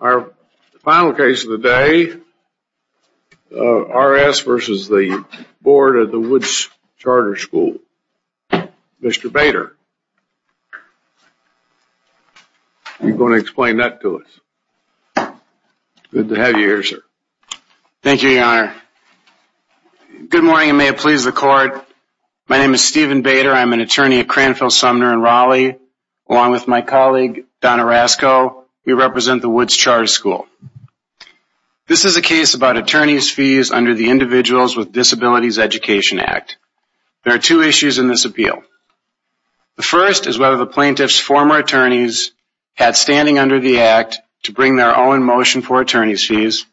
Our final case of the day, R.S. v. Board of Directors of Woods Charter School, Mr. Bader. You're going to explain that to us. Good to have you here, sir. Thank you, Your Honor. Good morning, and may it please the Court. My name is Stephen Bader. I'm an attorney at Cranfield, Sumner, and Raleigh. Along with my colleague Donna Rasko, we represent the Woods Charter School. This is a case about attorney's fees under the Individuals with Disabilities Education Act. There are two issues in this appeal. The first is whether the plaintiff's former attorneys had standing under the Act to bring their own motion for attorney's fees.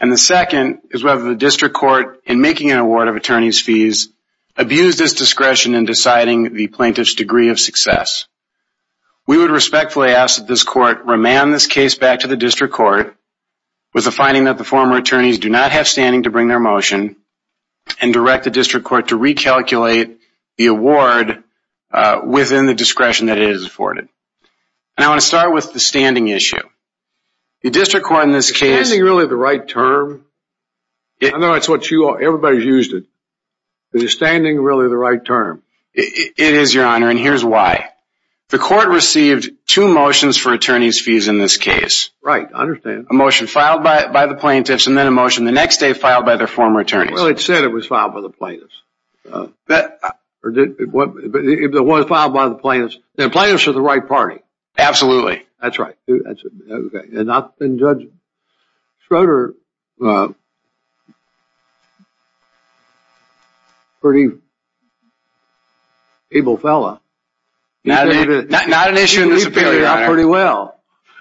The second is whether the District Court, in making an award of attorney's fees, abused its discretion in deciding the plaintiff's degree of success. We would respectfully ask that this Court remand this case back to the District Court with the finding that the former attorneys do not have standing to bring their motion and direct the District Court to recalculate the award within the discretion that it has afforded. I want to start with the standing issue. The District Court in this case... Is standing really the right term? I know it's what you all... everybody's used it. Is standing really the right term? It is, Your Honor, and here's why. The Court received two motions for attorney's fees in this case. Right. I understand. A motion filed by the plaintiffs, and then a motion the next day filed by their former attorneys. Well, it said it was filed by the plaintiffs. That... It was filed by the plaintiffs. The plaintiffs are the right party. Absolutely. That's right. And Judge Schroeder... pretty... able fella. Not an issue in this appeal, Your Honor. He did pretty well.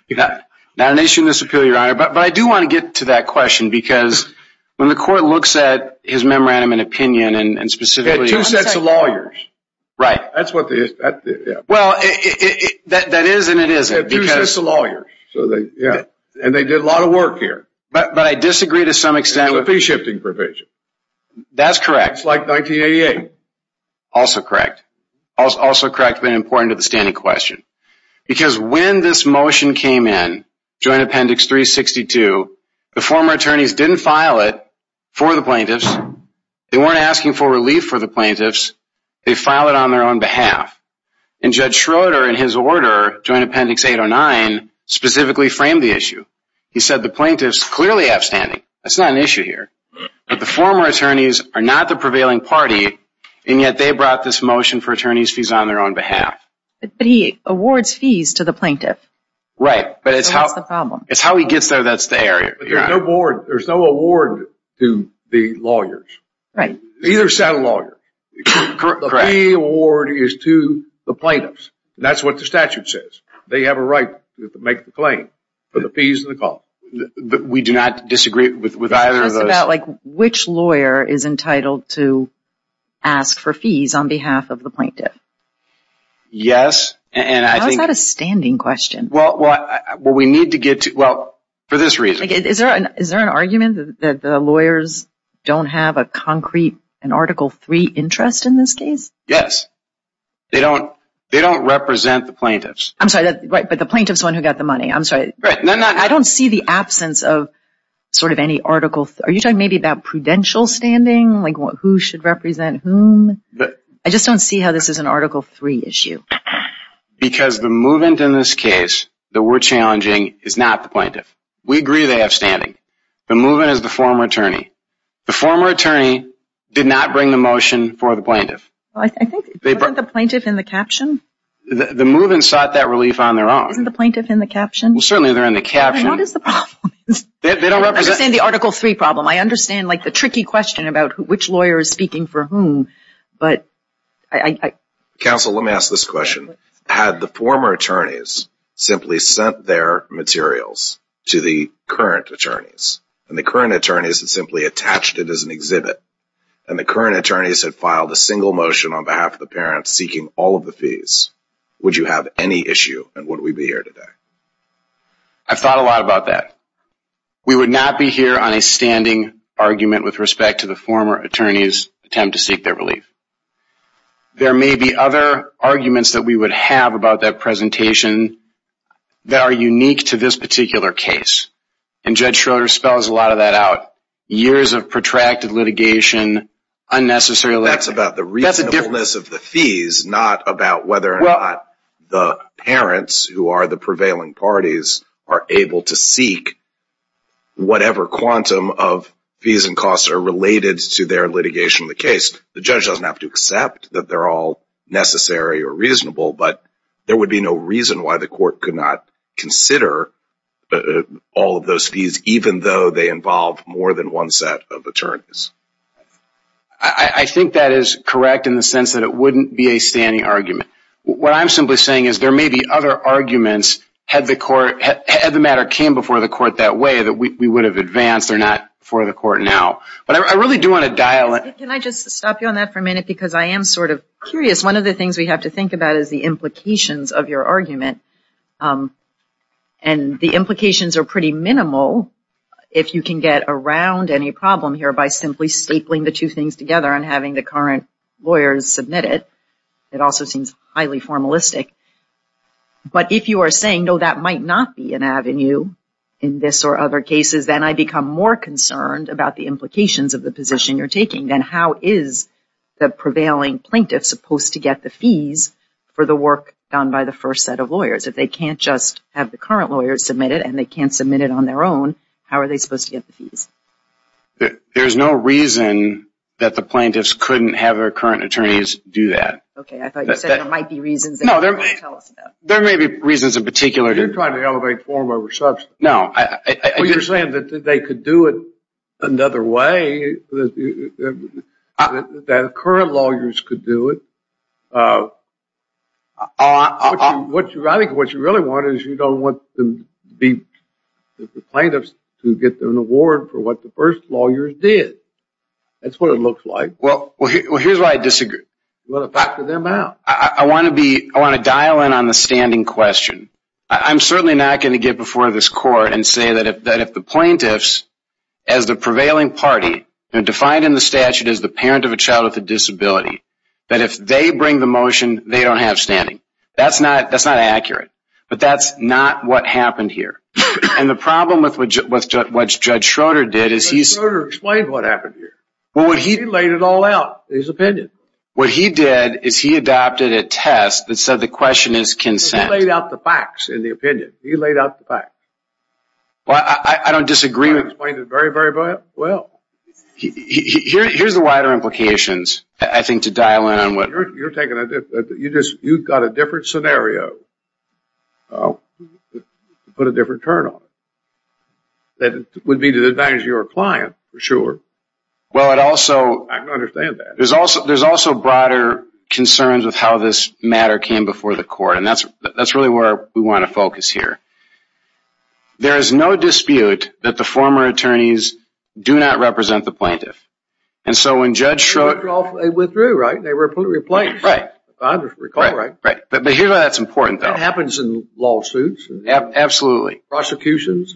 Not an issue in this appeal, Your Honor, but I do want to get to that question because when the Court looks at his memorandum and opinion and specifically... Two sets of lawyers. Right. That's what the... Well, that is and it isn't. Two sets of lawyers. And they did a lot of work here. But I disagree to some extent... It's a fee-shifting provision. That's correct. It's like 1988. Also correct, but important to the standing question. Because when this motion came in, Joint Appendix 362, the former attorneys didn't file it for the plaintiffs. They weren't asking for relief for the plaintiffs. They filed it on their own behalf. And Judge Schroeder, in his order, Joint Appendix 809, specifically framed the issue. He said the plaintiffs clearly have standing. That's not an issue here. But the former attorneys are not the prevailing party, and yet they brought this motion for attorney's fees on their own behalf. But he awards fees to the plaintiff. Right. That's the problem. It's how he gets there that's the area. There's no award to the lawyers. Right. The fee award is to the plaintiffs. That's what the statute says. They have a right to make the claim for the fees and the cost. We do not disagree with either of those. It's just about which lawyer is entitled to ask for fees on behalf of the plaintiff. Yes, and I think... How is that a standing question? Well, we need to get to... Well, for this reason. Is there an argument that the lawyers don't have a concrete, an Article III interest in this case? Yes. They don't represent the plaintiffs. I'm sorry, but the plaintiff's the one who got the money. I'm sorry. I don't see the absence of sort of any Article... Are you talking maybe about prudential standing? Like who should represent whom? I just don't see how this is an Article III issue. Because the movement in this case that we're challenging is not the plaintiff. We agree they have standing. The movement is the former attorney. The former attorney did not bring the motion for the plaintiff. I think... Wasn't the plaintiff in the caption? The movement sought that relief on their own. Isn't the plaintiff in the caption? Well, certainly they're in the caption. I understand the Article III problem. I understand like the tricky question about which lawyer is speaking for whom. But I... Counsel, let me ask this question. Had the former attorneys simply sent their materials to the current attorneys, and the current attorneys had simply attached it as an exhibit, and the current attorneys had filed a single motion on behalf of the parents seeking all of the fees, would you have any issue, and would we be here today? I've thought a lot about that. We would not be here on a standing argument with respect to the former attorney's attempt to seek their relief. There may be other arguments that we would have about that presentation that are unique to this particular case. And Judge Schroeder spells a lot of that out. Years of protracted litigation, unnecessary... That's about the reasonableness of the fees, not about whether or not the parents, who are the prevailing parties, are able to seek whatever quantum of fees and costs are related to their litigation of the case. The judge doesn't have to accept that they're all necessary or reasonable, but there would be no reason why the court could not consider all of those fees, even though they involve more than one set of attorneys. I think that is correct in the sense that it wouldn't be a standing argument. What I'm simply saying is there may be other arguments, had the matter came before the court that way, that we would have advanced or not before the court now. But I really do want to dial in... Can I just stop you on that for a minute, because I am sort of curious. One of the things we have to think about is the implications of your argument. And the implications are pretty minimal, if you can get around any problem here by simply stapling the two things together and having the current lawyers submit it. It also seems highly formalistic. But if you are saying, no, that might not be an avenue in this or other cases, then I become more concerned about the implications of the position you're taking. Then how is the prevailing plaintiff supposed to get the fees for the work done by the first set of lawyers? If they can't just have the current lawyers submit it, and they can't submit it on their own, how are they supposed to get the fees? There is no reason that the plaintiffs couldn't have their current attorneys do that. Okay, I thought you said there might be reasons... No, there may be reasons in particular... You're trying to elevate form over substance. No, I... Well, you're saying that they could do it another way, that current lawyers could do it. I think what you really want is you don't want the plaintiffs to get an award for what the first lawyers did. That's what it looks like. Well, here's why I disagree. You want to factor them out. I want to dial in on the standing question. I'm certainly not going to get before this court that if the plaintiffs, as the prevailing party, defined in the statute as the parent of a child with a disability, that if they bring the motion, they don't have standing. That's not accurate. But that's not what happened here. And the problem with what Judge Schroeder did is he... Judge Schroeder explained what happened here. He laid it all out, his opinion. What he did is he adopted a test that said the question is consent. He laid out the facts in the opinion. He laid out the facts. I don't disagree... He explained it very, very well. Here's the wider implications. I think to dial in on what... You're taking a different... You've got a different scenario. Put a different turn on it. That would be to the advantage of your client, for sure. Well, it also... I can understand that. There's also broader concerns with how this matter came before the court. And that's really where we want to focus here. There is no dispute that the former attorneys do not represent the plaintiff. And so when Judge Schroeder... They withdrew, right? They were replaced. Right. But here's why that's important, though. That happens in lawsuits. Absolutely. Prosecutions,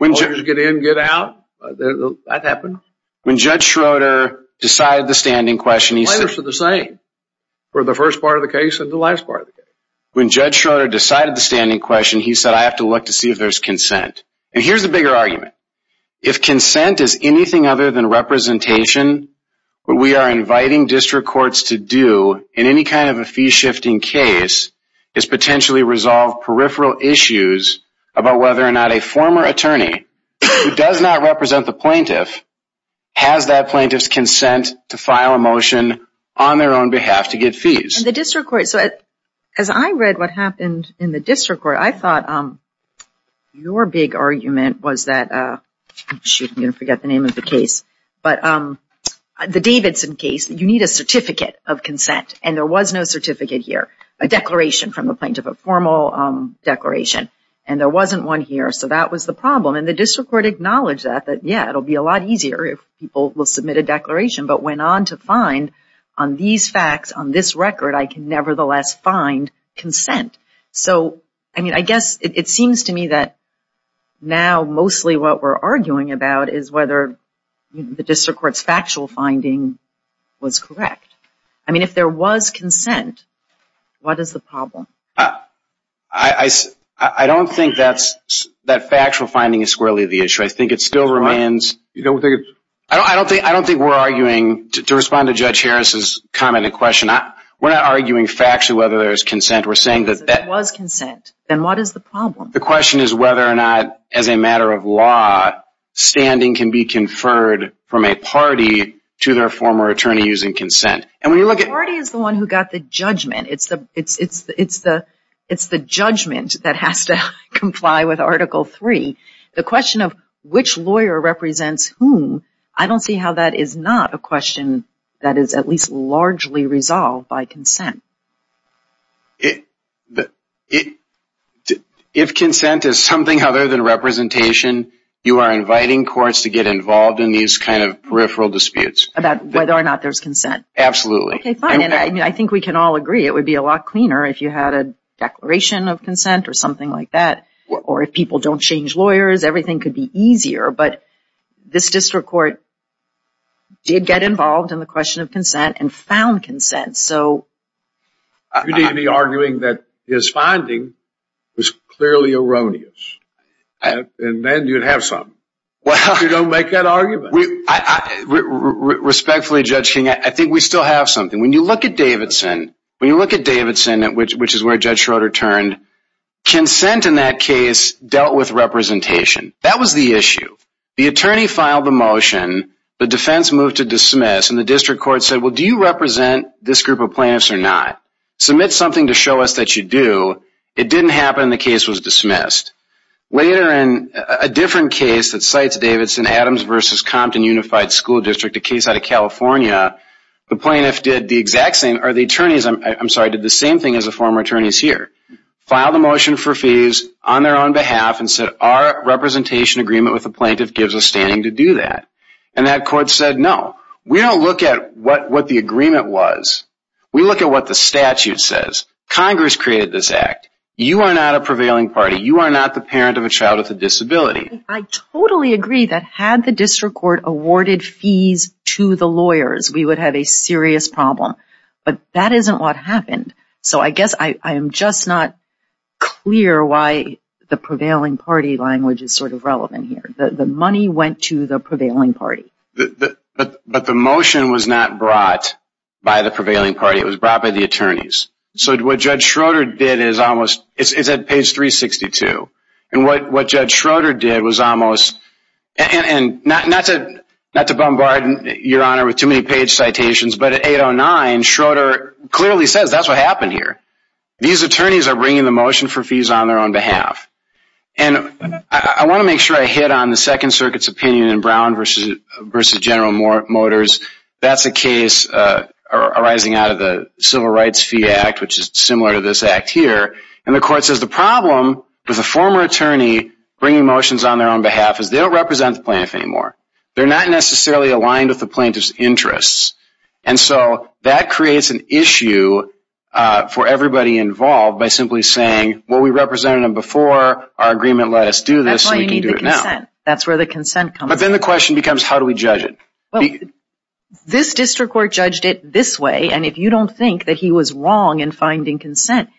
lawyers get in, get out. That happens. When Judge Schroeder decided the standing question, he said... Plaintiffs are the same for the first part of the case and the last part of the case. When Judge Schroeder decided the standing question, he said, I have to look to see if there's consent. And here's the bigger argument. If consent is anything other than representation, what we are inviting district courts to do in any kind of a fee-shifting case is potentially resolve peripheral issues about whether or not a former attorney who does not represent the plaintiff has that plaintiff's consent to file a motion on their own behalf to get fees. And the district court... As I read what happened in the district court, I thought your big argument was that... Shoot, I'm going to forget the name of the case. But the Davidson case, you need a certificate of consent. And there was no certificate here. A declaration from the plaintiff, a formal declaration. And there wasn't one here. So that was the problem. And the district court acknowledged that, that, yeah, it'll be a lot easier if people will submit a declaration, but went on to find on these facts, on this record, I can nevertheless find consent. So, I mean, I guess it seems to me that now mostly what we're arguing about is whether the district court's factual finding was correct. I mean, if there was consent, what is the problem? I don't think that factual finding is squarely the issue. I think it still remains... I don't think we're arguing... To respond to Judge Harris's comment and question, we're not arguing factually whether there's consent. We're saying that... If there was consent, then what is the problem? The question is whether or not, as a matter of law, standing can be conferred from a party to their former attorney using consent. And when you look at... The party is the one who got the judgment. It's the judgment that has to comply with Article III. The question of which lawyer represents whom, I don't see how that is not a question that is at least largely resolved by consent. If consent is something other than representation, you are inviting courts to get involved in these kind of peripheral disputes. About whether or not there's consent. Absolutely. Okay, fine. And I think we can all agree it would be a lot cleaner if you had a declaration of consent or something like that. Or if people don't change lawyers, everything could be easier. But this district court did get involved in the question of consent and found consent. So... You needn't be arguing that his finding was clearly erroneous. And then you'd have something. You don't make that argument. Respectfully, Judge King, I think we still have something. When you look at Davidson, which is where Judge Schroeder turned, consent in that case dealt with representation. That was the issue. They filed a motion. The defense moved to dismiss. And the district court said, well, do you represent this group of plaintiffs or not? Submit something to show us that you do. It didn't happen. The case was dismissed. Later in a different case that cites Davidson, Adams v. Compton Unified School District, a case out of California, the plaintiff did the exact same, or the attorneys, I'm sorry, did the same thing as the former attorneys here. Filed a motion for fees on their own behalf and said, we don't look at that. And that court said, no. We don't look at what the agreement was. We look at what the statute says. Congress created this act. You are not a prevailing party. You are not the parent of a child with a disability. I totally agree that had the district court awarded fees to the lawyers, we would have a serious problem. But that isn't what happened. So I guess I am just not clear why the prevailing party language is sort of relevant here. The money went to the prevailing party. But the motion was not brought by the prevailing party. It was brought by the attorneys. So what Judge Schroeder did is almost, it's at page 362. And what Judge Schroeder did was almost, and not to bombard your honor with too many page citations, but at 809, Schroeder clearly says that's what happened here. These attorneys are bringing the motion for fees on their own behalf. And I want to make sure I hit on the Second Circuit's opinion in Brown v. General Motors. That's a case arising out of the Civil Rights Fee Act, which is similar to this act here. And the court says the problem with a former attorney bringing motions on their own behalf is they don't represent the plaintiff anymore. They're not necessarily aligned with the plaintiff's interests. And so that creates an issue for everybody involved by simply saying before our agreement let us do this, we can do it now. That's where the consent comes in. But then the question becomes how do we judge it? This district court judged it this way. And if you don't think that he was wrong in finding consent,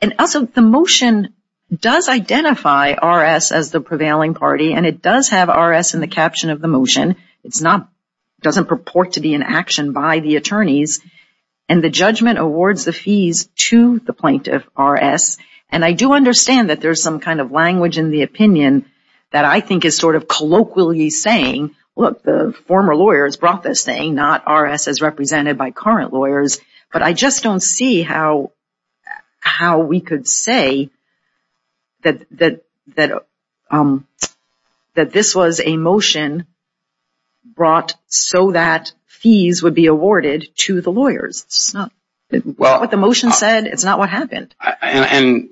and also the motion does identify R.S. as the prevailing party. And it does have R.S. in the caption of the motion. It doesn't purport to be in action by the attorneys. And the judgment awards the fees in the same kind of language in the opinion that I think is sort of colloquially saying look, the former lawyers brought this thing, not R.S. as represented by current lawyers. But I just don't see how we could say that this was a motion brought so that fees would be awarded to the lawyers. It's not what the motion said. It's not what happened. And,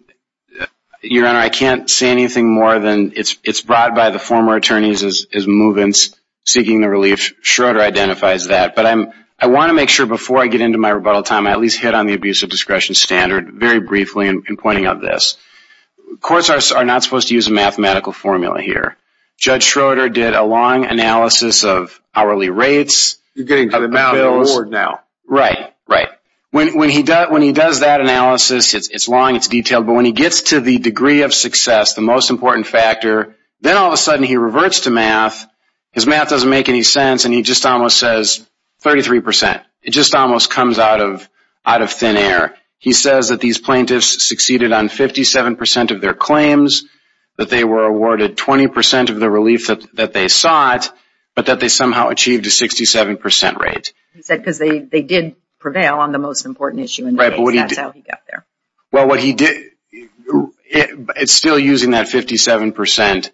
Your Honor, I can't say anything more than it's brought by the former attorneys as move-ins seeking the relief. Schroeder identifies that. But I want to make sure before I get into my rebuttal time I at least hit on the abuse of discretion standard very briefly in pointing out this. Courts are not supposed to use a mathematical formula here. Judge Schroeder did a long analysis of hourly rates. You're getting to the mouth of the word now. Right. It's long. It's detailed. But when he gets to the degree of success, the most important factor, then all of a sudden he reverts to math. His math doesn't make any sense and he just almost says 33%. It just almost comes out of thin air. He says that these plaintiffs succeeded on 57% of their claims, that they were awarded 20% of the relief that they sought, but that they somehow achieved a 67% rate. He said because they did prevail well what he did, it's still using that 57%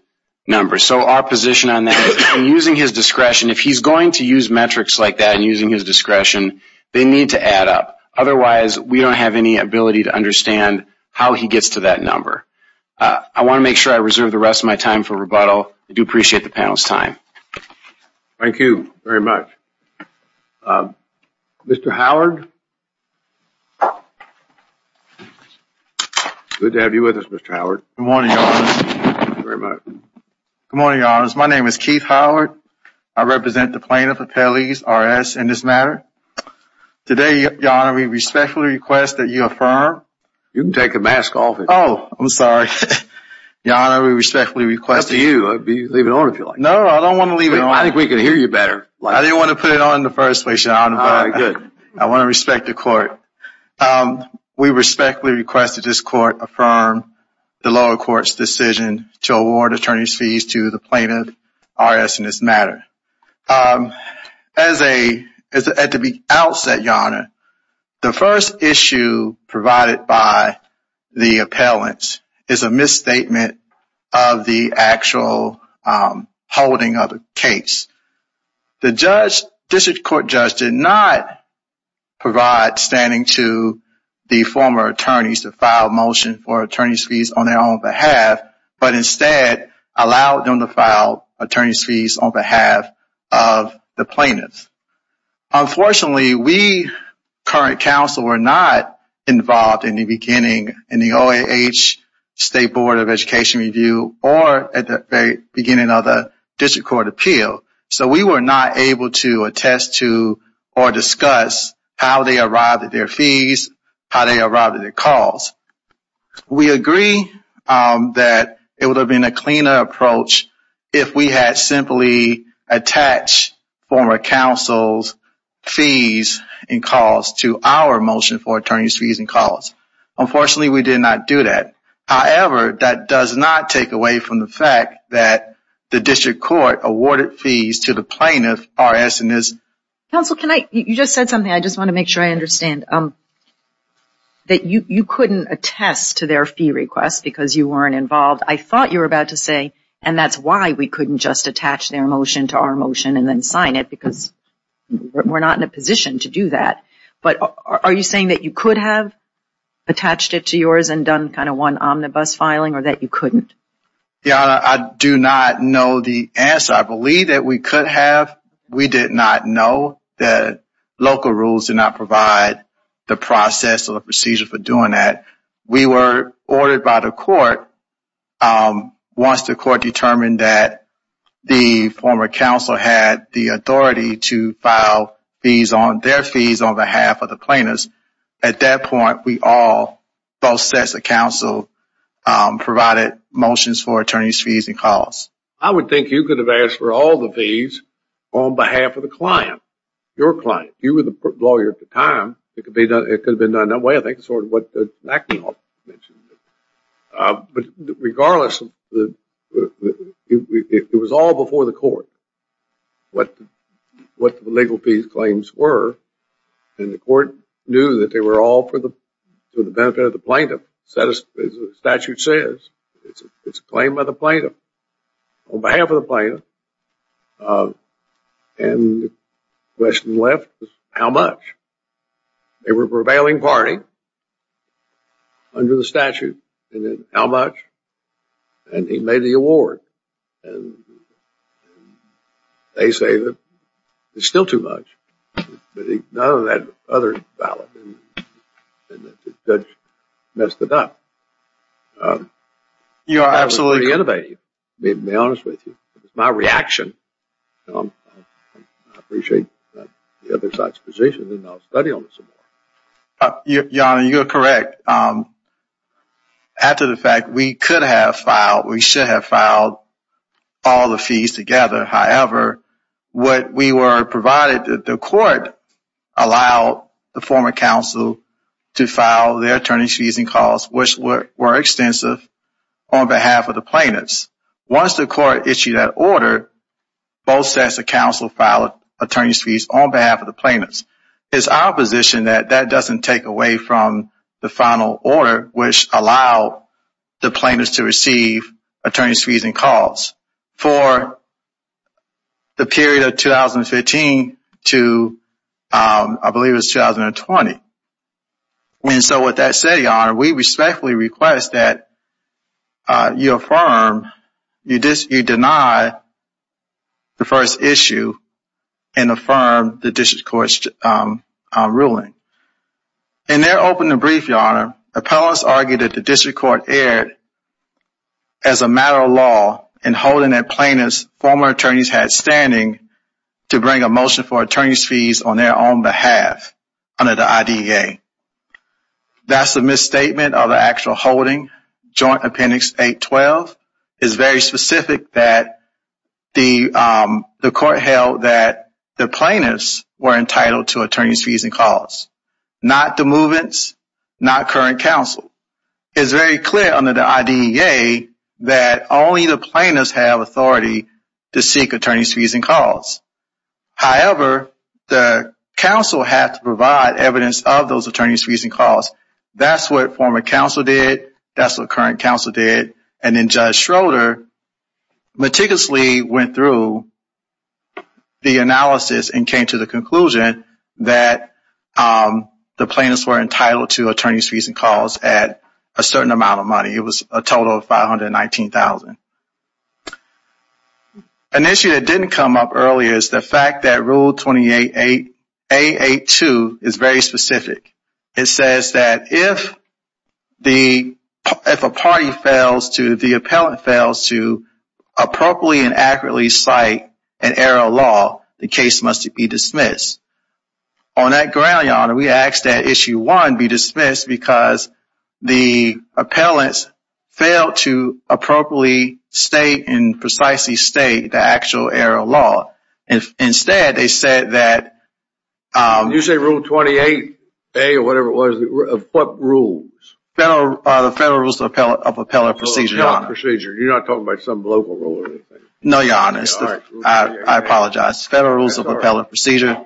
number. So our position on that is using his discretion, if he's going to use metrics like that and using his discretion, they need to add up. Otherwise we don't have any ability to understand how he gets to that number. I want to make sure I reserve the rest of my time for rebuttal. I do appreciate the panel's time. Thank you very much. Mr. Howard? Good to have you with us, Mr. Howard. Good morning, Your Honor. Thank you very much. Good morning, Your Honor. My name is Keith Howard. I represent the plaintiff appellees, R.S., in this matter. Today, Your Honor, we respectfully request that you affirm. You can take the mask off. Oh, I'm sorry. Your Honor, we respectfully request... It's up to you. Leave it on if you like. No, I don't want to leave it on. We respectfully request that this court affirm the lower court's decision to award attorney's fees to the plaintiff, R.S., in this matter. At the outset, Your Honor, the first issue provided by the appellant is a misstatement of the actual holding of the case. The district court judge did not provide an understanding to the former attorneys to file a motion for attorney's fees on their own behalf, but instead allowed them to file attorney's fees on behalf of the plaintiff. Unfortunately, we, current counsel, were not involved in the beginning in the OAH State Board of Education review or at the very beginning of the district court appeal, so we were not able to attest to or discuss how they arrived at their fees, how they arrived at their calls. We agree that it would have been a cleaner approach if we had simply attached former counsel's fees and calls to our motion for attorney's fees and calls. Unfortunately, we did not do that. However, that does not take away from the fact that the district court awarded fees to the plaintiff, R.S., in this... You just said something. I just want to make sure I understand. That you couldn't attest to their fee request because you weren't involved. I thought you were about to say, and that's why we couldn't just attach their motion to our motion and then sign it because we're not in a position to do that. But are you saying that you could have attached it to yours and done kind of one omnibus filing or that you couldn't? Yeah, I do not know the answer. I believe that we could have. We did not know that local rules did not provide the process or the procedure for doing that. We were ordered by the court once the court determined that the former counsel had the authority to file their fees on behalf of the plaintiffs. At that point, we all, both sets of counsel, provided motions for attorney's fees and calls. I would think you could have asked for all the fees on behalf of the client, your client. If you were the lawyer at the time, it could have been done that way. I think that's sort of what McAnuff mentioned. But regardless, it was all before the court what the legal fees claims were. And the court knew that they were all for the benefit of the plaintiff. As the statute says, it's a claim by the plaintiff. On behalf of the plaintiff, and the question left was how much? They were prevailing party under the statute. And then how much? And he made the award. And they say that it's still too much. But none of that other ballot. And the judge messed it up. You are absolutely innovative. I'll be honest with you. It was my reaction. I appreciate the other side's position. And I'll study on it some more. Your Honor, you are correct. After the fact, we could have filed, we should have filed all the fees together. However, what we were provided, the court allowed the former counsel to file their attorney's fees and calls, which were extensive on behalf of the plaintiffs. Once the court issued that order, both sets of counsel filed attorney's fees on behalf of the plaintiffs. It's our position that that doesn't take away from the final order, which allowed the plaintiffs to receive attorney's fees and calls for the period of 2015 to, I believe it was 2020. And so with that said, Your Honor, we respectfully request that you affirm, you deny the first issue and affirm the district court's ruling. In their opening brief, Your Honor, appellants argued that the district court erred as a matter of law in holding that plaintiffs' former attorneys had standing to bring a motion for attorney's fees on their own behalf under the IDEA. That's a misstatement of the actual holding. Joint Appendix 812 is very specific that the court held that the plaintiffs were entitled to attorney's fees and calls, not the movements, not current counsel. It's very clear under the IDEA that only the plaintiffs have authority to seek attorney's fees and calls. However, the counsel had to provide evidence of those attorney's fees and calls. That's what former counsel did. That's what current counsel did. And then Judge Schroeder meticulously went through the analysis and came to the conclusion that the plaintiffs were entitled to attorney's fees and calls at a certain amount of money. It was a total of $519,000. An issue that didn't come up earlier is the fact that Rule 28A.8.2 is very specific. It says that if a party fails to, the appellant fails to appropriately and accurately cite an error of law, the case must be dismissed. On that ground, Your Honor, we ask that Issue 1 be dismissed because the appellants failed to appropriately state and precisely state the actual error of law. Instead, they said that... You said Rule 28A or whatever it was. What rules? The Federal Rules of Appellant Procedure, Your Honor. You're not talking about some local rule or anything? No, Your Honor. I apologize. Federal Rules of Appellant Procedure.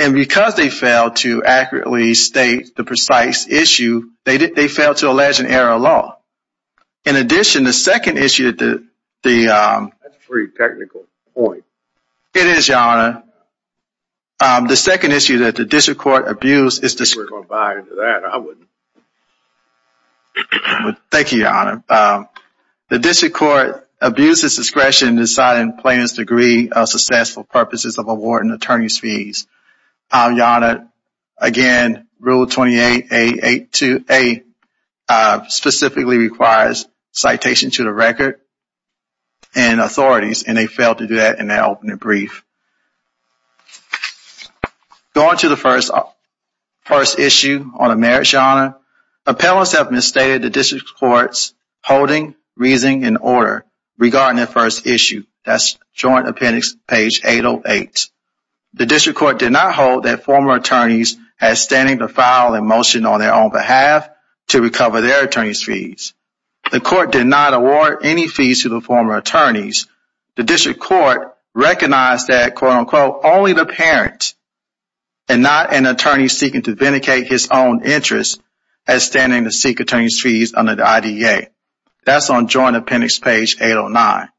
And because they failed to accurately state the precise issue, they failed to allege an error of law. In addition, the second issue... That's a pretty technical point. It is, Your Honor. The second issue that the District Court abused... We're not going to buy into that. I wouldn't. Thank you, Your Honor. The District Court abused its discretion in deciding plaintiff's degree of successful purposes of awarding attorney's fees. Your Honor, again, Rule 28A.8.2.A specifically requires citation to the record and authorities, and they failed to do that in their opening brief. Going to the first issue on a marriage, Your Honor. Appellants have misstated the District Court's holding, reasoning, and order regarding their first issue. That's Joint Appendix, page 808. The District Court did not hold that former attorneys had standing to file a motion on their own behalf to recover their attorney's fees. The Court did not award any fees to the former attorneys. The District Court recognized that only the parent, and not an attorney seeking to vindicate his own interests, has standing to seek attorney's fees under the IDEA. That's on Joint Appendix, page 809.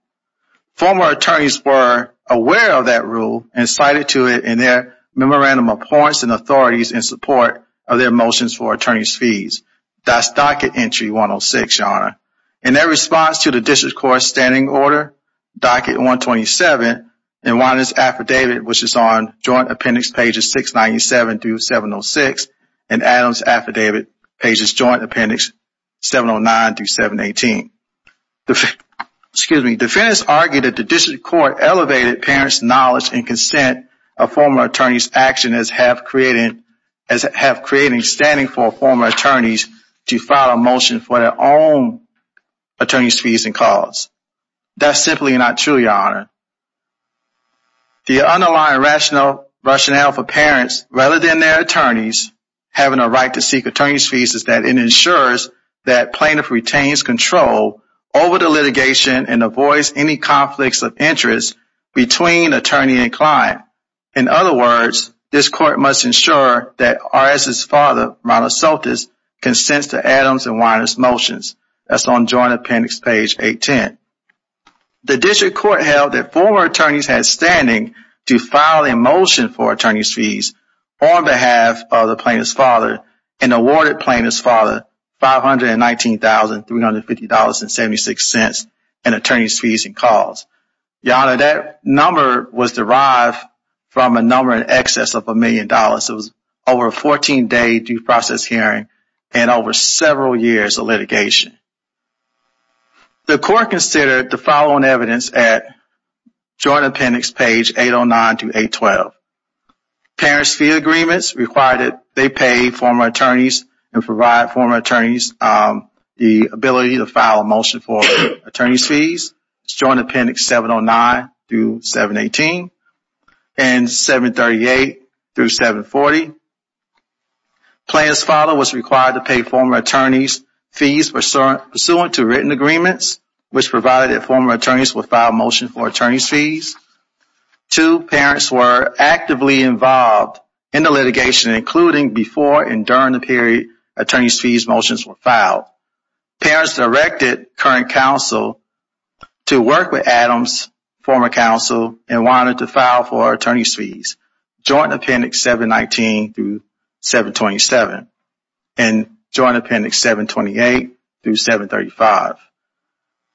Former attorneys were aware of that rule and cited to it in their memorandum of points and authorities in support of their motions for attorney's fees. That's Docket Entry 106, Your Honor. In their response to the District Court's standing order, Docket 127, Adams Affidavit, which is on Joint Appendix, pages 697-706, and Adams Affidavit, pages Joint Appendix, 709-718. Defendants argued that the District Court elevated parents' knowledge and consent of former attorneys' actions as half-creating standing for former attorneys to file a motion for their own attorney's fees and costs. That's simply not true, Your Honor. The underlying rational rationale for parents, rather than their attorneys, having a right to seek attorney's fees is that it ensures that plaintiff retains control over the litigation and avoids any conflicts of interest between attorney and client. In other words, this Court must ensure that R.S.'s father, Ronald Soltis, consents to Adams and Weiner's motions. That's on Joint Appendix, page 810. The District Court held that former attorneys had standing to file a motion for attorney's fees on behalf of the plaintiff's father and awarded plaintiff's father $519,350.76 in attorney's fees and costs. Your Honor, that number was derived from a number in excess of a million dollars. It was over a 14-day due process hearing and over several years of litigation. The Court considered the following evidence at Joint Appendix, page 809-812. Parents' fee agreements required that they pay former attorneys and provide former attorneys the ability to file a motion for attorney's fees. It's Joint Appendix 709-718 and 738-740. Plaintiff's father was required to pay former attorney's fees pursuant to written agreements which provided that former attorneys would file a motion for attorney's fees. Two parents were actively involved in the litigation, including before and during the period attorney's fees motions were filed. Parents directed current counsel to work with Adams' former counsel and wanted to file for attorney's fees, Joint Appendix 719-727 and Joint Appendix 728-735.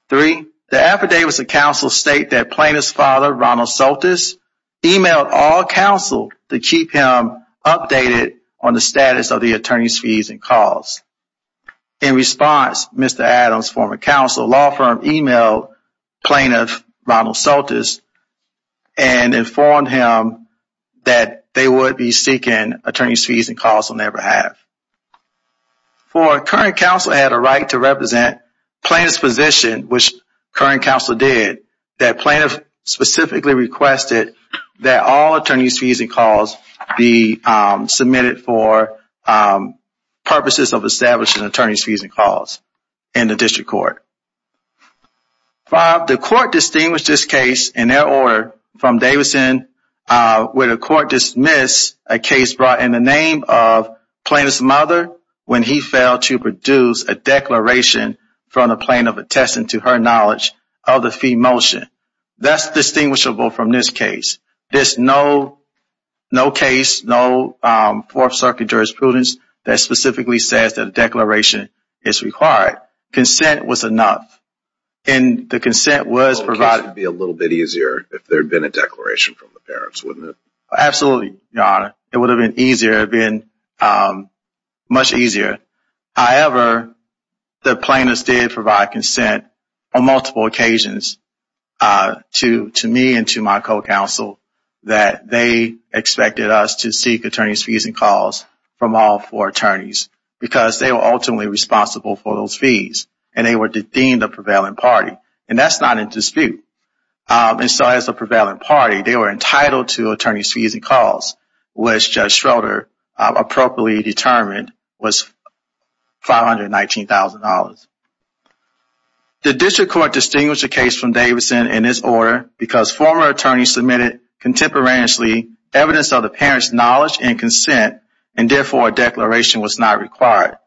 Three, the affidavits of counsel state that plaintiff's father, Ronald Soltis, emailed all counsel to keep him updated on the status of the attorney's fees and costs. In response, Mr. Adams' former counsel, law firm, emailed plaintiff, Ronald Soltis, and informed him that they would be seeking attorney's fees and costs on their behalf. Four, current counsel had a right to represent plaintiff's position which current counsel did, that plaintiff specifically requested that all attorney's fees and costs be submitted for purposes of establishing attorney's fees and costs in the district court. Five, the court distinguished this case in their order from Davidson where the court dismissed a case brought in the name of plaintiff's mother when he failed to produce a declaration from the plaintiff attesting to her knowledge of the fee motion. That's distinguishable from this case. There's no case, no Fourth Circuit jurisprudence that specifically says that a declaration is required. Consent was enough, and the consent was provided. It would be a little bit easier if there had been a declaration from the parents, wouldn't it? Absolutely, Your Honor. It would have been easier, it would have been much easier. However, the plaintiffs did provide consent on multiple occasions to me and to my co-counsel that they expected us to seek attorney's fees and costs from all four attorneys because they were ultimately responsible for those fees, and they were deemed a prevalent party. And that's not in dispute. And so as a prevalent party, they were entitled to attorney's fees and costs which Judge Schroeder appropriately determined was $519,000. The district court distinguished the case from Davidson in this order because former attorneys submitted contemporaneously evidence of the parents' knowledge and consent and therefore a declaration was not required.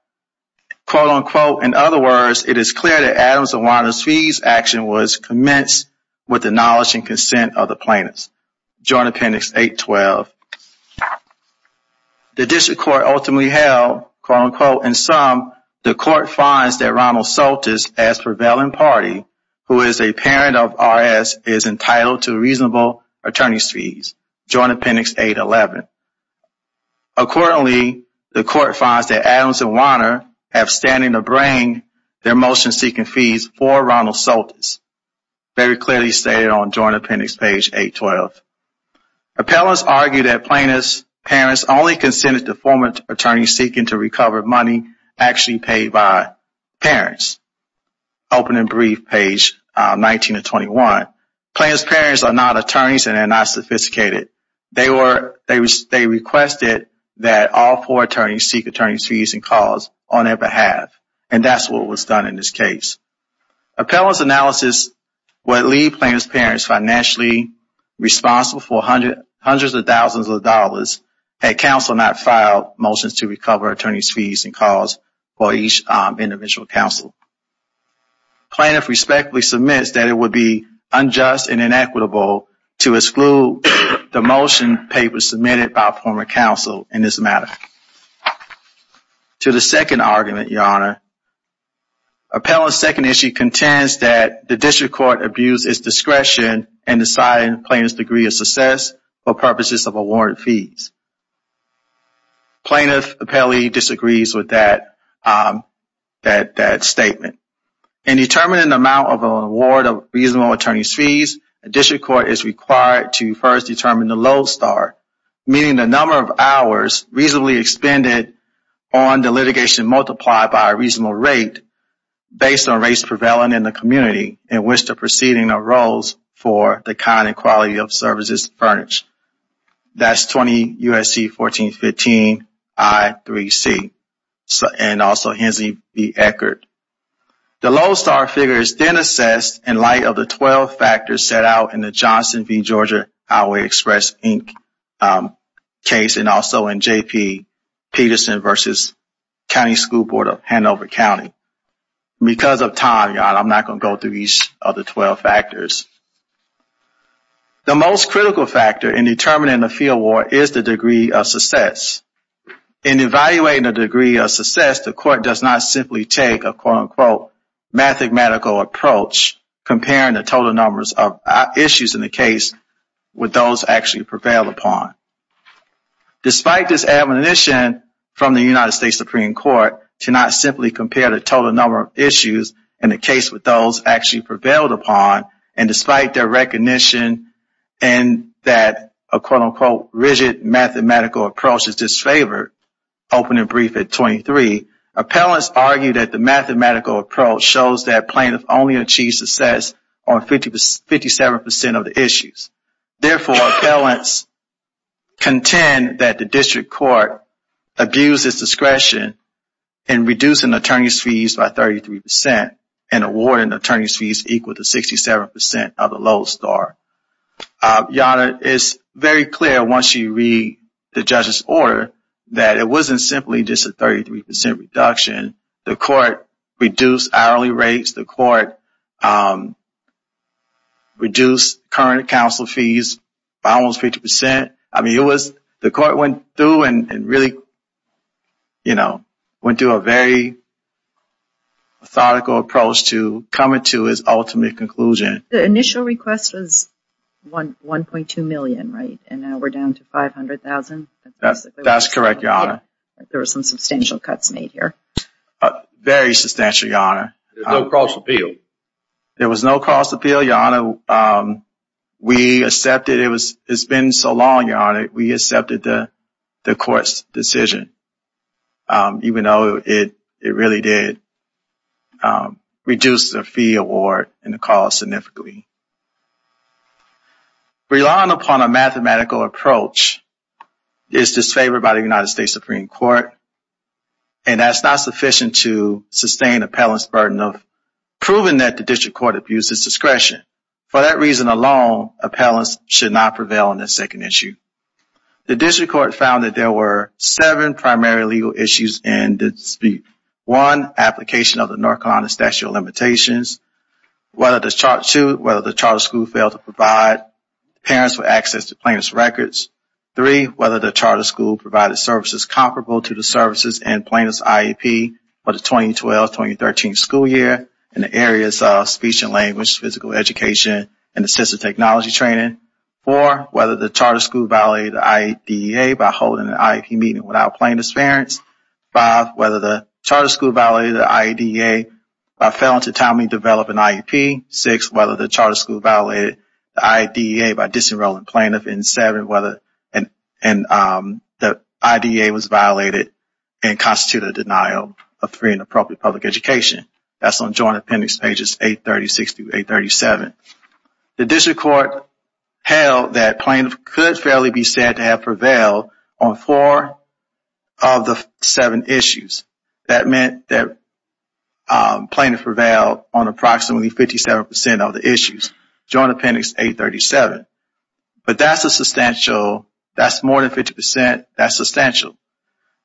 Quote, unquote, in other words, it is clear that Adams and Warner's fees action was commenced with the knowledge and consent of the plaintiffs. The district court ultimately held, quote, unquote, in sum, the court finds that Ronald Soltis as prevalent party who is a parent of RS is entitled to reasonable attorney's fees, Joint Appendix 811. Accordingly, the court finds that Adams and Warner have standing to bring their motion-seeking fees for Ronald Soltis, very clearly stated on Joint Appendix page 812. Appellants argue that plaintiff's parents only consented to former attorneys seeking to recover money actually paid by parents. Open and brief page 19-21. Plaintiff's parents are not attorneys and are not sophisticated. They requested that all four attorneys seek attorney's fees and cause on their behalf and that's what was done in this case. Appellant's analysis would leave plaintiff's parents financially responsible for hundreds of thousands of dollars had counsel not filed motions to recover attorney's fees and cause for each individual counsel. Plaintiff respectfully submits that it would be unjust and inequitable to exclude the motion papers submitted by former counsel in this matter. To the second argument, Your Honor, Appellant's second issue is that a district court abused its discretion in deciding plaintiff's degree of success for purposes of award fees. Plaintiff apparently disagrees with that statement. In determining the amount of an award of reasonable attorney's fees, a district court is required to first determine the low start, meaning the number of hours reasonably expended on the litigation multiplied by a reasonable rate against the proceeding of roles for the kind and quality of services furnished. That's 20 U.S.C. 1415 I3C and also Hensley v. Eckert. The low start figure is then assessed in light of the 12 factors set out in the Johnson v. Georgia Highway Express Inc. case and also in J.P. Peterson v. County School Board of Hanover County. Because of time, Your Honor, I'm going to go over the 12 factors. The most critical factor in determining the fee award is the degree of success. In evaluating the degree of success, the court does not simply take a quote-unquote mathematical approach comparing the total numbers of issues in the case with those actually prevailed upon. Despite this admonition from the United States Supreme Court to not simply compare the total number of issues in the case with those actually prevailed upon, and despite their recognition that a quote-unquote rigid mathematical approach is disfavored, opening brief at 23, appellants argue that the mathematical approach shows that plaintiffs only achieved success on 57% of the issues. Therefore, appellants contend that the district court abused its discretion in awarding attorney's fees equal to 67% of the Lowe's star. Your Honor, it's very clear once you read the judge's order that it wasn't simply just a 33% reduction. The court reduced hourly rates. The court reduced current counsel fees by almost 50%. I mean, it was, the court went through and really, you know, went through a very rigid approach to coming to its ultimate conclusion. The initial request was $1.2 million, right? And now we're down to $500,000. That's correct, Your Honor. There were some substantial cuts made here. Very substantial, Your Honor. There was no cross-appeal. There was no cross-appeal, Your Honor. We accepted, it's been so long, Your Honor, we accepted the court's decision even though it really did reduce the fee award and the cost significantly. Relying upon a mathematical approach is disfavored by the United States Supreme Court and that's not sufficient to sustain appellant's burden of proving that the district court abuses discretion. For that reason alone, appellants should not prevail on this second issue. The district court found that there were seven primary legal issues in the dispute. One, application of the North Carolina Statute of Limitations. Two, whether the charter school failed to provide parents with access to plaintiff's records. Three, whether the charter school provided services comparable to the services in plaintiff's IEP for the 2012-2013 school year in the areas of speech and language, physical education, and assistive technology training. Four, whether the charter school violated the IEDA by holding an IEP meeting without plaintiff's parents. Five, whether the charter school violated the IEDA by failing to timely develop an IEP. Six, whether the charter school violated the IEDA by disenrolling plaintiff in seven, and the IEDA was violated and constituted a denial of free and appropriate public education. That's on joint appendix pages 836-837. The district court held that plaintiff could fairly be said to have prevailed on four of the seven issues. That meant that plaintiff prevailed on approximately 57% of the issues, joint appendix 837. But that's a substantial, that's more than 50%, that's substantial.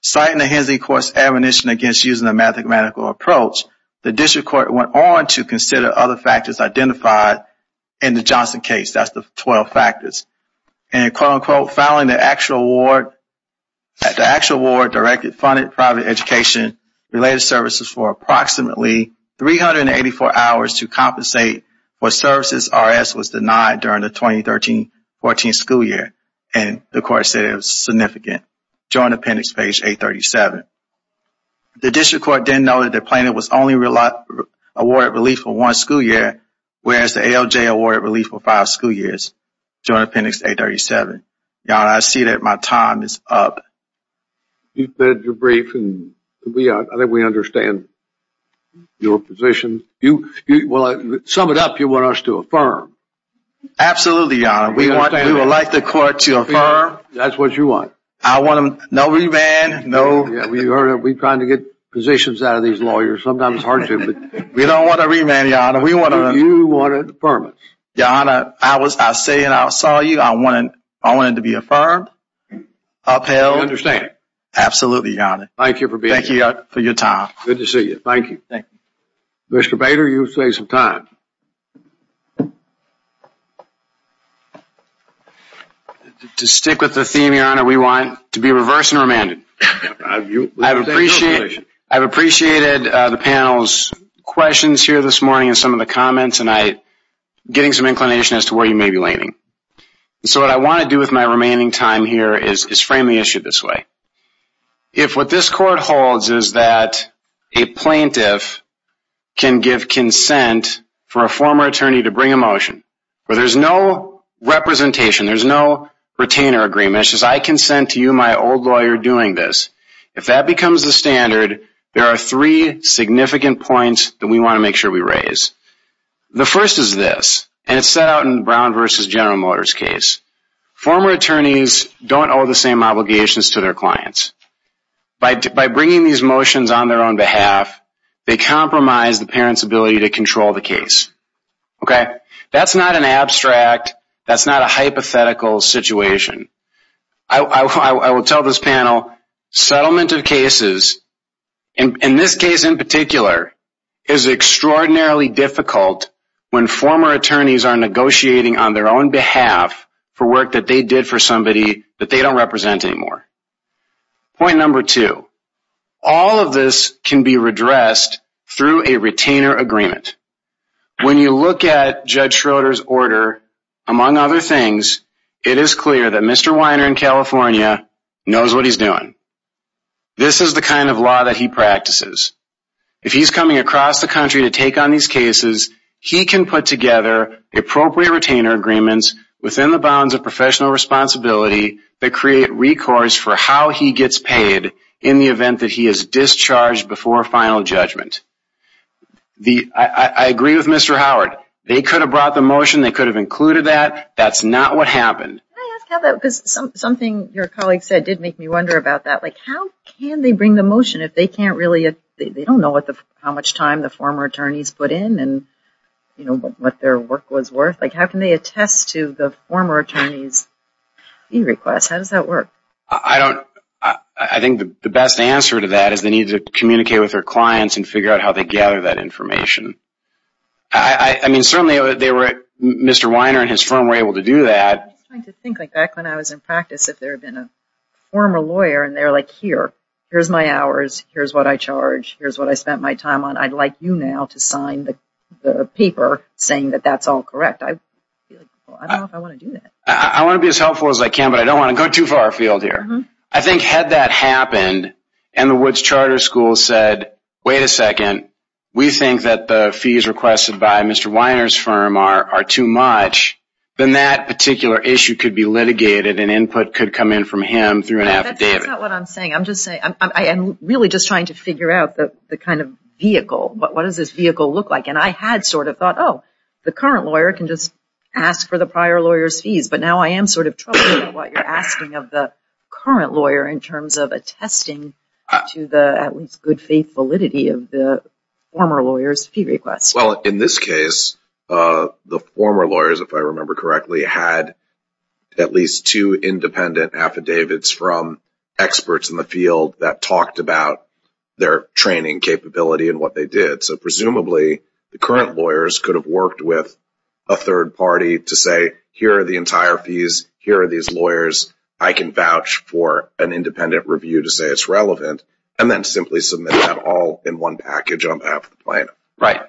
Citing the Hensley Court's admonition against using a mathematical approach, the district court went on to consider other factors identified in the Johnson case. That's the 12 factors. And quote-unquote, filing the actual award, the actual award directed, funded private education related services for approximately 384 hours to compensate for services RS was denied during the 2013-14 school year. And the court said it was significant, joint appendix page 837. The district court didn't know that the plaintiff was only awarded relief for one school year, whereas the ALJ awarded relief for five school years, joint appendix 837. Your Honor, I see that my time is up. You said you're brief and I think we understand your position. Sum it up, you want us to affirm. Absolutely, Your Honor. We would like the court to affirm. That's what you want. No remand. We're trying to get positions out of these lawyers. Sometimes it's hard to. We don't want a remand, Your Honor. You wanted a permit. Your Honor, I was saying, I saw you, I wanted to be affirmed. Upheld. I understand. Absolutely, Your Honor. Thank you for being here. Thank you for your time. Good to see you. Thank you. Thank you. Mr. Bader, you say some time. To stick with the theme, Your Honor, we want to be reversed and remanded. I've appreciated the panel's questions here this morning and some of the comments and getting some inclination as to where you may be leaning. So what I want to do with my remaining time here is frame the issue this way. If what this court holds is that a plaintiff can give consent for a former attorney to bring a motion where there's no representation, there's no retainer agreement, it's just I consent to you, my old lawyer, doing this. If that becomes the standard, there are three significant points that we want to make sure we raise. The first is this, and it's set out in Brown v. General Motors case. Former attorneys don't owe the same obligations to their clients. By bringing these motions on their own behalf, they compromise the parent's ability to control the case. That's not an abstract, that's not a hypothetical situation. I will tell this panel, settlement of cases, in this case, in particular, is extraordinarily difficult when former attorneys are negotiating on their own behalf for work that they did for somebody that they don't represent anymore. Point number two, all of this can be redressed through a retainer agreement. When you look at Judge Schroeder's order, among other things, it is clear that Mr. Weiner in California knows what he's doing. This is the kind of law that he practices. If he's coming across the country to take on these cases, he can put together appropriate retainer agreements within the bounds of professional responsibility that create recourse for how he gets paid in the event that he is discharged before final judgment. I agree with Mr. Howard, they could have brought the motion, they could have included that, that's not what happened. Can I ask how that, because something your colleague said did make me wonder about that, like how can they bring the motion if they can't really, they don't know how much time the former attorneys put in and what their work was worth, like how can they attest to the former attorney's e-request, how does that work? I don't, I think the best answer to that is they need to communicate with their clients and figure out how they gather that information. I mean certainly they were, Mr. Weiner and his firm were able to do that. I was trying to think like back when I was in practice if there had been a former lawyer and they're like here, here's my hours, here's what I charge, here's what I spent my time on, I'd like you now to sign the paper saying that that's all correct. I don't know if I want to do that. I want to be as helpful as I can but I don't want to go too far afield here. I think had that happened and the Woods Charter School said wait a second, we think that the fees requested by Mr. Weiner's firm are too much, then that particular issue could be litigated and input could come in from him through an affidavit. That's not what I'm saying. I'm really just trying to figure out the kind of vehicle. What does this vehicle look like? And I had sort of thought oh, the current lawyer can just ask for the prior lawyer's fees but now I am sort of troubling what you're asking of the current lawyer in terms of attesting to the at least good faith validity of the former lawyer's fee request. Well, in this case, the former lawyers, if I remember correctly, had at least two independent affidavits from experts in the field that talked about their training capability and what they did. So presumably the current lawyers could have worked with a third party to say here are the entire fees, here are these lawyers, I can vouch for an independent review to say it's relevant and then simply submit that all in one package on behalf of the plaintiff. Right.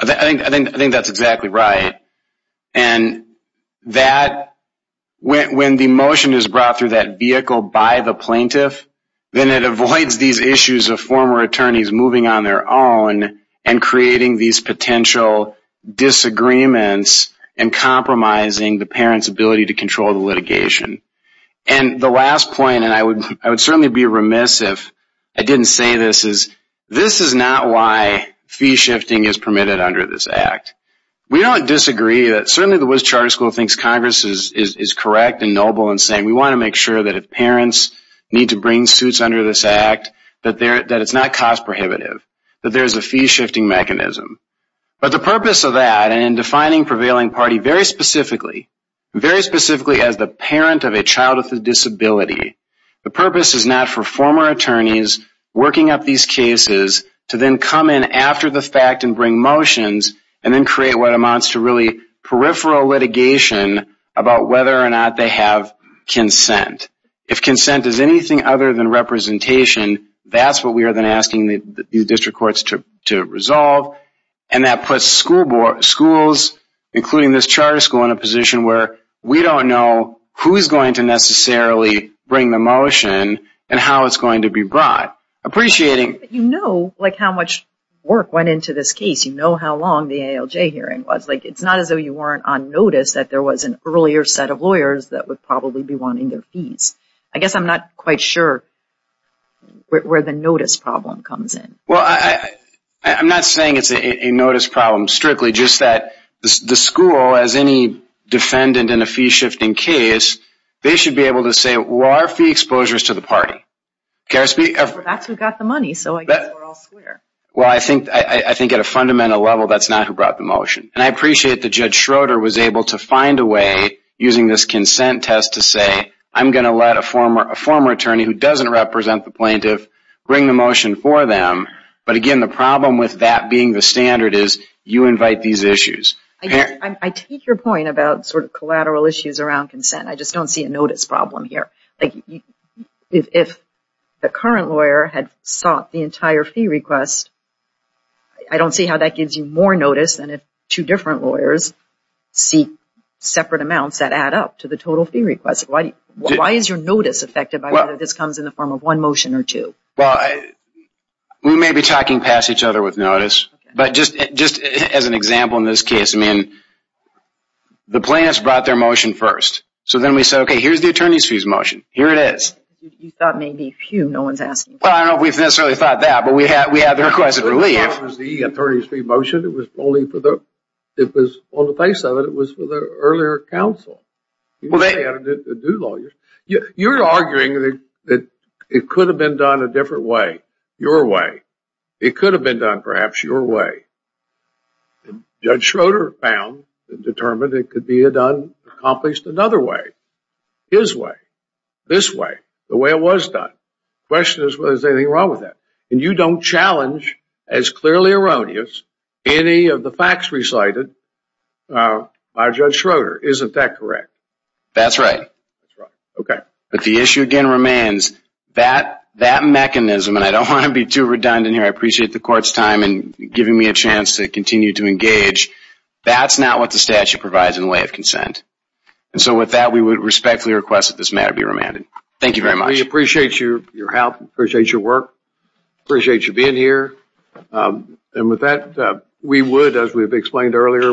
I think that's exactly right. And that, when the motion is brought through that vehicle by the plaintiff, then it avoids these issues of former attorneys moving on their own litigation and creating these potential disagreements and compromising the parent's ability to control the litigation. And the last point, and I would certainly be remiss if I didn't say this, is this is not why fee shifting is permitted under this act. We don't disagree that certainly the Woods Charter School thinks Congress is correct and noble in saying we want to make sure that if parents need to bring suits under this act, that it's not cost prohibitive, that there's a fee shifting mechanism. But the purpose of that, and in defining prevailing party very specifically, very specifically as the parent of a child with a disability, the purpose is not for former attorneys working up these cases to then come in after the fact and bring motions and then create what amounts to really peripheral litigation about whether or not they have consent. If consent is anything other than representation, that's what we are then asking the district courts to resolve. And that puts schools, including this charter school, in a position where we don't know who is going to necessarily bring the motion and how it's going to be brought. Appreciating that you know how much work went into this case. You know how long the ALJ hearing was. It's not as though you weren't on notice that there was an earlier set of lawyers that would probably be wanting their fees. I guess I'm not quite sure where the notice problem comes in. I'm not saying it's a notice problem strictly, just that the school, as any defendant in a fee shifting case, they should be able to say, well, our fee exposure is to the party. Well, that's who got the money, so I guess we're all square. Well, I think at a fundamental level, that's not who brought the motion. And I appreciate that Judge Schroeder was able to find a way, using this consent test, to say, I'm going to let a former attorney who doesn't represent the plaintiff bring the motion for consent. But I don't see a notice problem here. If the current lawyer had sought the entire fee request, I don't see how that gives you more notice than if two different lawyers seek separate amounts that add up to the total fee request. Why is your notice affected by whether this comes in the form of one motion or two? Well, we may be talking past each other with notice, but just as an example in this case, the plaintiffs brought their motion first. So then we said, okay, here's the attorney's fee motion. Here it is. maybe, phew, no one's asking. Well, I don't know if we've necessarily thought that, but we had the request at relief. It was the attorney's fee motion. It was only for the, on the face of it, it was for the earlier counsel. You're arguing that it could have been done a different way, your way. It could have been done perhaps your way. Judge Schroeder found and determined it could be accomplished another way, his way, this way, the way it was done. The question is, well, is there anything wrong with that? And you don't challenge as clearly erroneous any of the facts recited by Judge Schroeder. Isn't that correct? That's right. That's right. Okay. But the issue again remains that mechanism, and I don't want to be too redundant here. I appreciate the court's time in giving me a chance to continue to engage. That's not what the statute provides in the way of consent. With that, we would respectfully request that this matter be remanded. Thank you very much. We appreciate your help. your work. We appreciate your being here. With that, we would, as we explained earlier,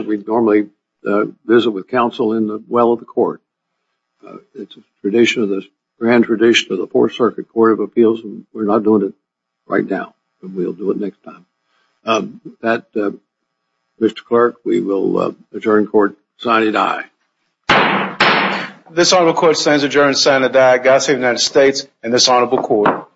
visit with counsel in the well of the court. It's a tradition, a grand tradition of the Fourth Circuit Court of Appeals, and we're not doing it right now, but we'll do it next time. With that, Mr. Clerk, we will adjourn court. Signing aye. This honorable court stands adjourned. Signing aye. This honorable court